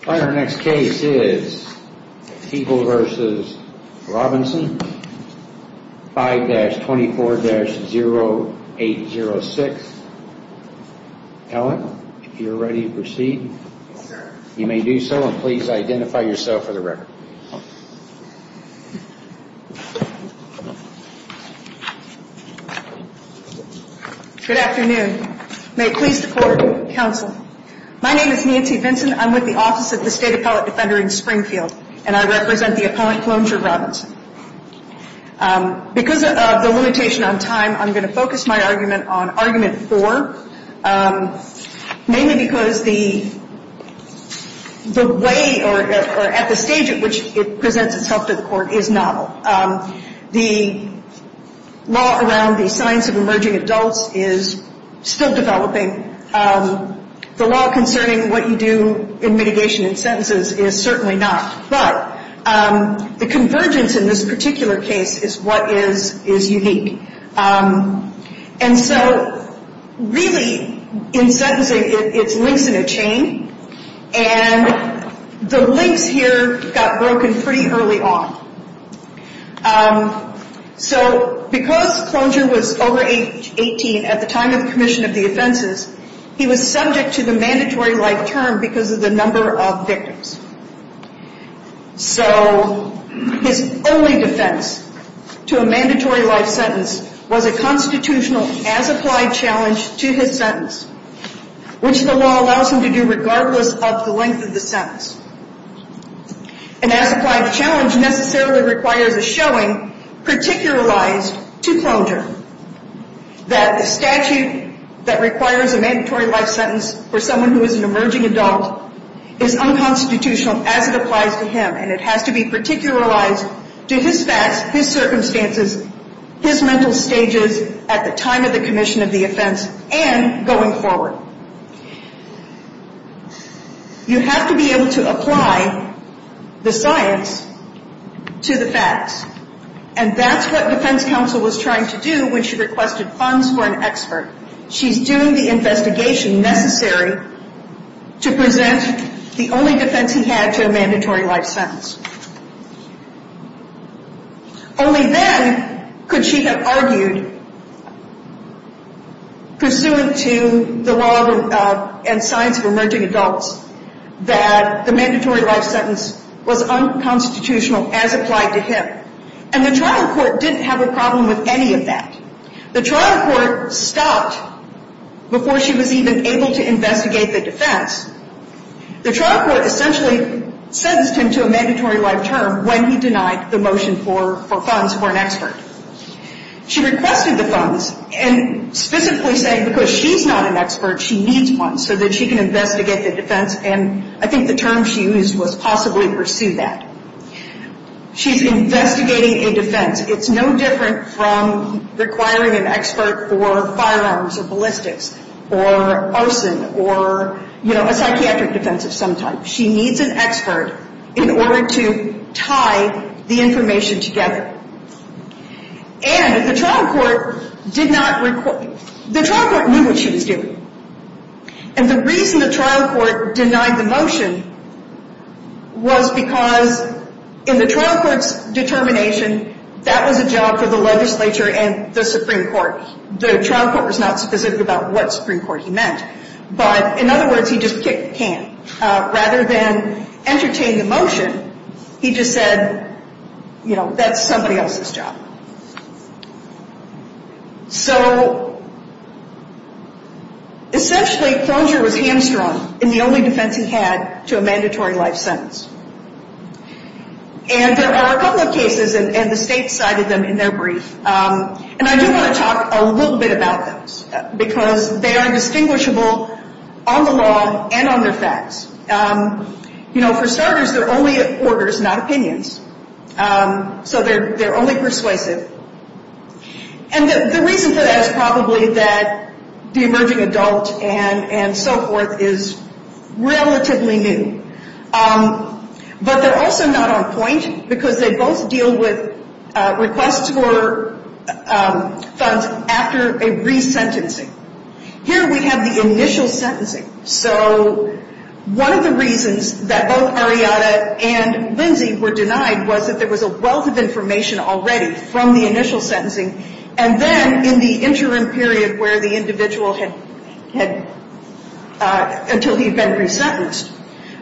5-24-0806 Ellen, if you are ready to proceed. You may do so and please identify yourself for the record. Good afternoon. May it please the Court, Counsel. My name is Nancy Vincent. I'm with the Office of the State Appellate Defender in Springfield. And I represent the appellant, Wilmer Robinson. Because of the limitation on time, I'm going to focus my argument on Argument 4. Mainly because the way or at the stage at which it presents itself to the Court is novel. The law around the signs of emerging adults is still developing. The law concerning what you do in mitigation in sentences is certainly not. But the convergence in this particular case is what is unique. And so really in sentencing, it's links in a chain. And the links here got broken pretty early on. So because Clonjure was over age 18 at the time of commission of the offenses, he was subject to the mandatory life term because of the number of victims. So his only defense to a mandatory life sentence was a constitutional as-applied challenge to his sentence, which the law allows him to do regardless of the length of the sentence. An as-applied challenge necessarily requires a showing particularized to Clonjure that a statute that requires a mandatory life sentence for someone who is an emerging adult is unconstitutional as it applies to him. And it has to be particularized to his facts, his circumstances, his mental stages at the time of the commission of the offense and going forward. You have to be able to apply the science to the facts. And that's what defense counsel was trying to do when she requested funds for an expert. She's doing the investigation necessary to present the only defense he had to a mandatory life sentence. Only then could she have argued, pursuant to the law and science of emerging adults, that the mandatory life sentence was unconstitutional as applied to him. And the trial court didn't have a problem with any of that. The trial court stopped before she was even able to investigate the defense. The trial court essentially sentenced him to a mandatory life term when he denied the motion for funds for an expert. She requested the funds, and specifically saying because she's not an expert, she needs funds so that she can investigate the defense, and I think the term she used was possibly pursue that. She's investigating a defense. It's no different from requiring an expert for firearms or ballistics or arson or, you know, a psychiatric defense of some type. She needs an expert in order to tie the information together. And the trial court did not – the trial court knew what she was doing. And the reason the trial court denied the motion was because in the trial court's determination that was a job for the legislature and the Supreme Court. The trial court was not specific about what Supreme Court he meant. But, in other words, he just kicked the can. Rather than entertain the motion, he just said, you know, that's somebody else's job. So, essentially, Clonjure was hamstrung in the only defense he had to a mandatory life sentence. And there are a couple of cases, and the state cited them in their brief. And I do want to talk a little bit about those because they are distinguishable on the law and on their facts. You know, for starters, they're only orders, not opinions. So they're only persuasive. And the reason for that is probably that the emerging adult and so forth is relatively new. But they're also not on point because they both deal with requests for funds after a resentencing. Here we have the initial sentencing. So one of the reasons that both Ariadna and Lindsey were denied was that there was a wealth of information already from the initial sentencing. And then in the interim period where the individual had – until he had been resentenced.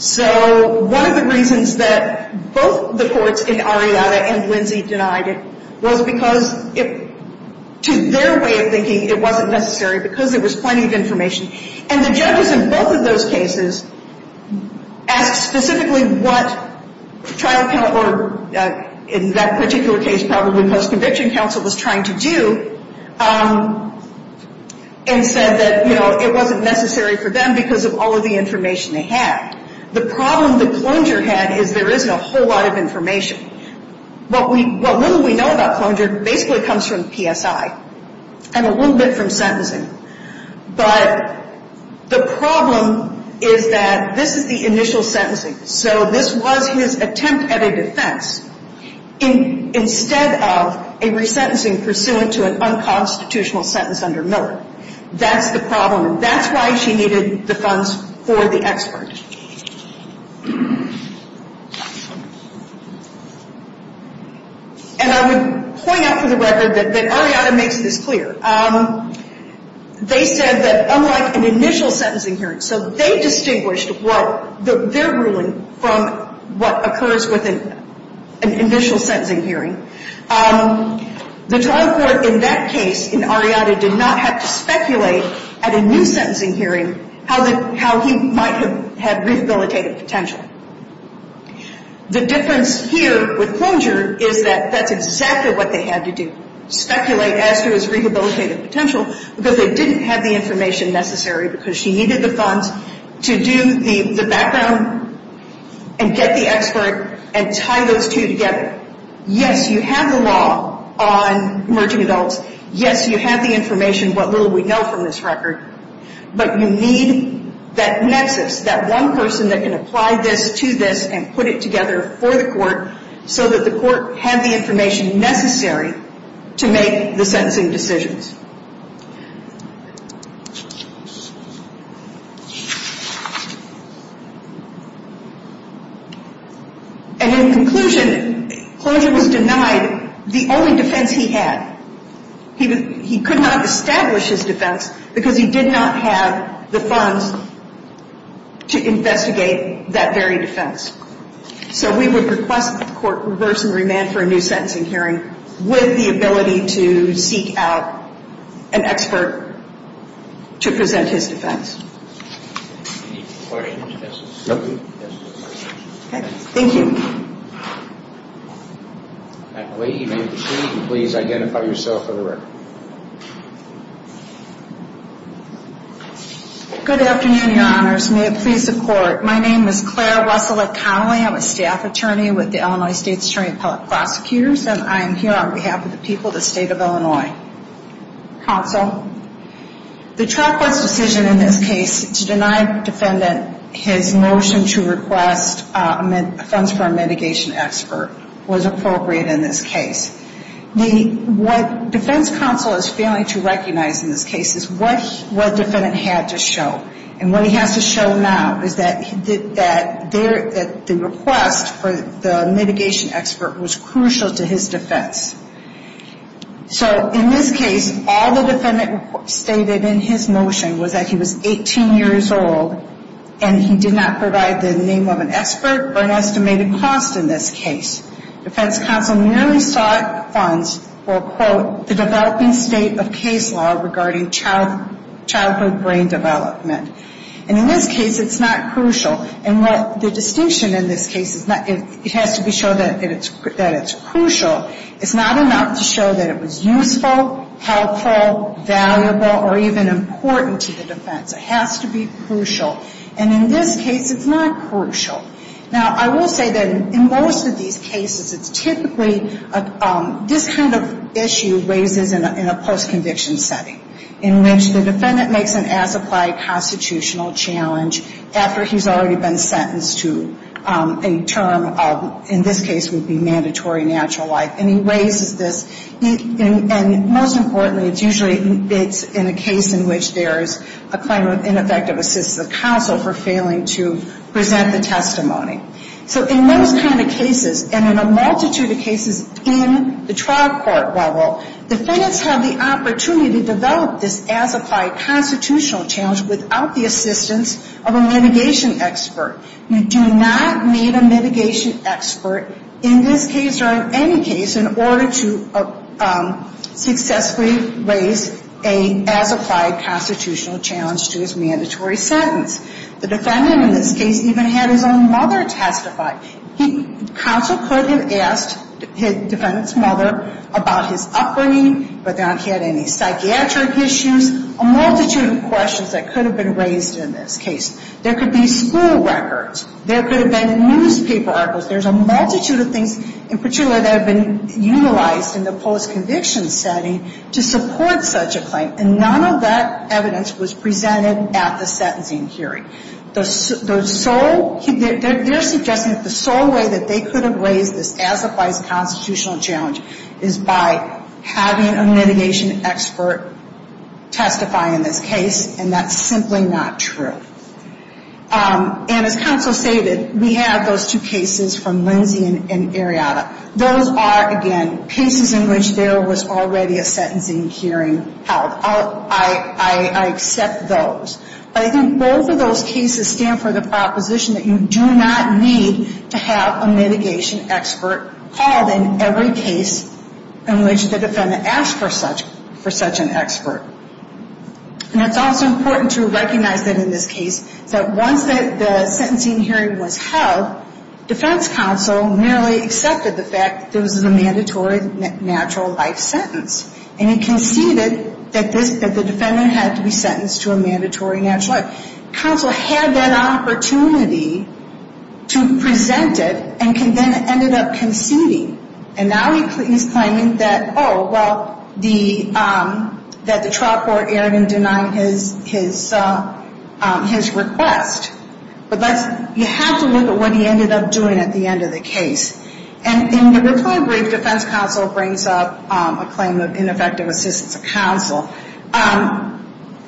So one of the reasons that both the courts in Ariadna and Lindsey denied it was because to their way of thinking, it wasn't necessary because there was plenty of information. And the judges in both of those cases asked specifically what trial counselor, in that particular case probably post-conviction counsel, was trying to do and said that, you know, it wasn't necessary for them because of all of the information they had. The problem that Clonjure had is there isn't a whole lot of information. What little we know about Clonjure basically comes from PSI and a little bit from sentencing. But the problem is that this is the initial sentencing. So this was his attempt at a defense instead of a resentencing pursuant to an unconstitutional sentence under Miller. That's the problem. That's why she needed the funds for the expert. And I would point out for the record that Ariadna makes this clear. They said that unlike an initial sentencing hearing, so they distinguished their ruling from what occurs with an initial sentencing hearing. The trial court in that case in Ariadna did not have to speculate at a new sentencing hearing how he might have had rehabilitative potential. The difference here with Clonjure is that that's exactly what they had to do, speculate as to his rehabilitative potential because they didn't have the information necessary because she needed the funds to do the background and get the expert and tie those two together. Yes, you have the law on emerging adults. Yes, you have the information, what little we know from this record. But you need that nexus, that one person that can apply this to this and put it together for the court so that the court had the information necessary to make the sentencing decisions. And in conclusion, Clonjure was denied the only defense he had. He could not establish his defense because he did not have the funds to investigate that very defense. So we would request that the court reverse and remand for a new sentencing hearing with the ability to seek out the defense. An expert to present his defense. Any questions? No. Okay, thank you. That lady may proceed and please identify yourself for the record. Good afternoon, Your Honors. May it please the court. My name is Claire Russell-McConnelly. I'm a staff attorney with the Illinois State's Attorney Appellate Prosecutors and I am here on behalf of the people of the state of Illinois. Counsel, the trial court's decision in this case to deny defendant his motion to request funds for a mitigation expert was appropriate in this case. What defense counsel is failing to recognize in this case is what defendant had to show. And what he has to show now is that the request for the mitigation expert was crucial to his defense. So in this case, all the defendant stated in his motion was that he was 18 years old and he did not provide the name of an expert or an estimated cost in this case. Defense counsel merely sought funds for, quote, the developing state of case law regarding childhood brain development. And in this case, it's not crucial. And the distinction in this case is it has to be shown that it's crucial. It's not enough to show that it was useful, helpful, valuable, or even important to the defense. It has to be crucial. And in this case, it's not crucial. Now, I will say that in most of these cases, it's typically this kind of issue raises in a post-conviction setting, in which the defendant makes an as-applied constitutional challenge after he's already been sentenced to a term of, in this case, would be mandatory natural life. And he raises this. And most importantly, it's usually in a case in which there's a claim of ineffective assistance of counsel for failing to present the testimony. So in those kind of cases, and in a multitude of cases in the trial court level, defendants have the opportunity to develop this as-applied constitutional challenge without the assistance of a mitigation expert. You do not need a mitigation expert in this case or in any case in order to successfully raise an as-applied constitutional challenge to his mandatory sentence. The defendant in this case even had his own mother testify. Counsel could have asked the defendant's mother about his upbringing but not had any psychiatric issues, a multitude of questions that could have been raised in this case. There could be school records. There could have been newspaper articles. There's a multitude of things, in particular, that have been utilized in the post-conviction setting to support such a claim. And none of that evidence was presented at the sentencing hearing. They're suggesting that the sole way that they could have raised this as-applied constitutional challenge is by having a mitigation expert testify in this case, and that's simply not true. And as counsel stated, we have those two cases from Lindsey and Arianna. Those are, again, cases in which there was already a sentencing hearing held. I accept those. But I think both of those cases stand for the proposition that you do not need to have a mitigation expert called in every case in which the defendant asked for such an expert. And it's also important to recognize that in this case that once the sentencing hearing was held, defense counsel merely accepted the fact that this was a mandatory natural life sentence. And he conceded that the defendant had to be sentenced to a mandatory natural life. Counsel had that opportunity to present it and then ended up conceding. And now he's claiming that, oh, well, that the trial court erred in denying his request. But you have to look at what he ended up doing at the end of the case. And in the reply brief, defense counsel brings up a claim of ineffective assistance of counsel.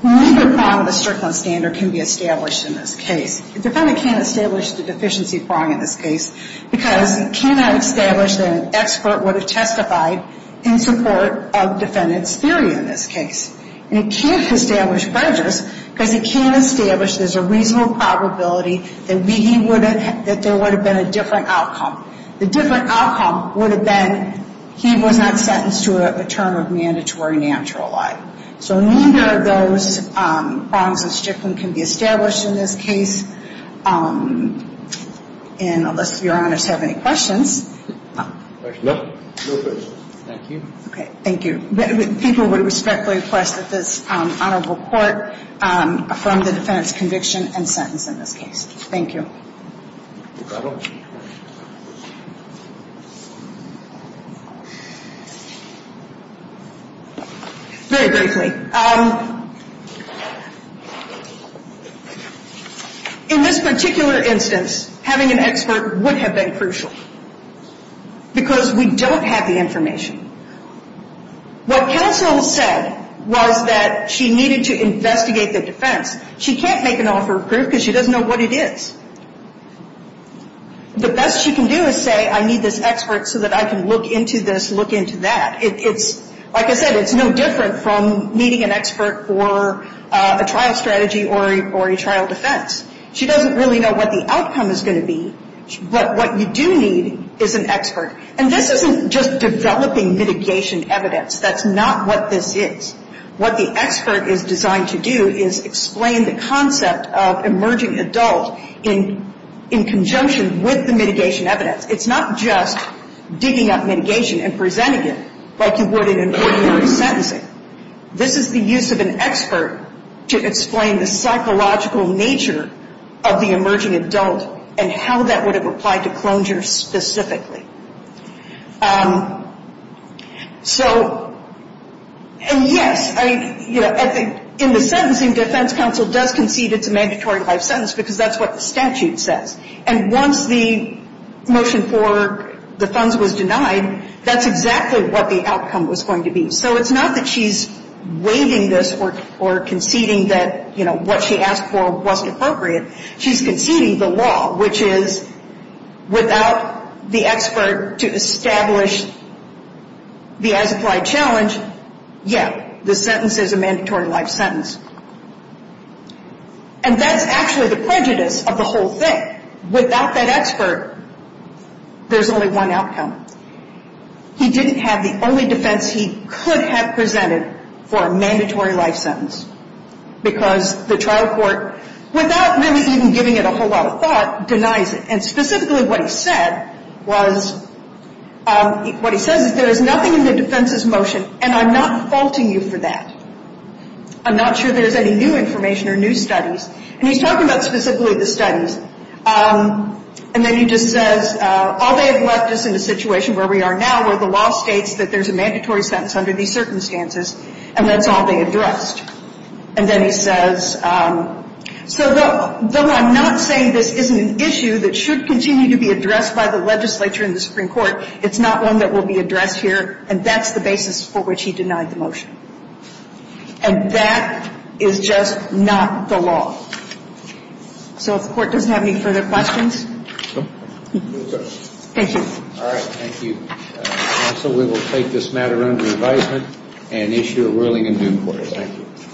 Neither prong of the Strickland standard can be established in this case. The defendant can't establish the deficiency prong in this case because he cannot establish that an expert would have testified in support of defendant's theory in this case. And he can't establish prejudice because he can't establish there's a reasonable probability that there would have been a different outcome. The different outcome would have been he was not sentenced to a term of mandatory natural life. So neither of those prongs of Strickland can be established in this case. And unless Your Honors have any questions. No? No questions. Thank you. Okay, thank you. People would respectfully request that this honorable court affirm the defendant's conviction and sentence in this case. Thank you. Very briefly. In this particular instance, having an expert would have been crucial. Because we don't have the information. What counsel said was that she needed to investigate the defense. She can't make an offer of proof because she doesn't know what it is. The best she can do is say I need this expert so that I can look into this, look into that. Like I said, it's no different from meeting an expert for a trial strategy or a trial defense. She doesn't really know what the outcome is going to be. But what you do need is an expert. And this isn't just developing mitigation evidence. That's not what this is. What the expert is designed to do is explain the concept of emerging adult in conjunction with the mitigation evidence. It's not just digging up mitigation and presenting it like you would in an ordinary sentencing. This is the use of an expert to explain the psychological nature of the emerging adult and how that would have applied to closure specifically. So, and yes, in the sentencing defense counsel does concede it's a mandatory life sentence because that's what the statute says. And once the motion for the funds was denied, that's exactly what the outcome was going to be. So it's not that she's waiving this or conceding that, you know, what she asked for wasn't appropriate. She's conceding the law, which is without the expert to establish the as-applied challenge, yeah, the sentence is a mandatory life sentence. And that's actually the prejudice of the whole thing. Without that expert, there's only one outcome. He didn't have the only defense he could have presented for a mandatory life sentence because the trial court, without really even giving it a whole lot of thought, denies it. And specifically what he said was, what he says is there is nothing in the defense's motion, and I'm not faulting you for that. I'm not sure there's any new information or new studies. And he's talking about specifically the studies. And then he just says, all they have left us in a situation where we are now where the law states that there's a mandatory sentence under these circumstances, and that's all they addressed. And then he says, so though I'm not saying this isn't an issue that should continue to be addressed by the legislature and the Supreme Court, it's not one that will be addressed here, and that's the basis for which he denied the motion. And that is just not the law. So if the court doesn't have any further questions. Thank you. All right. Thank you. Counsel, we will take this matter under advisement and issue a ruling in due course. Thank you.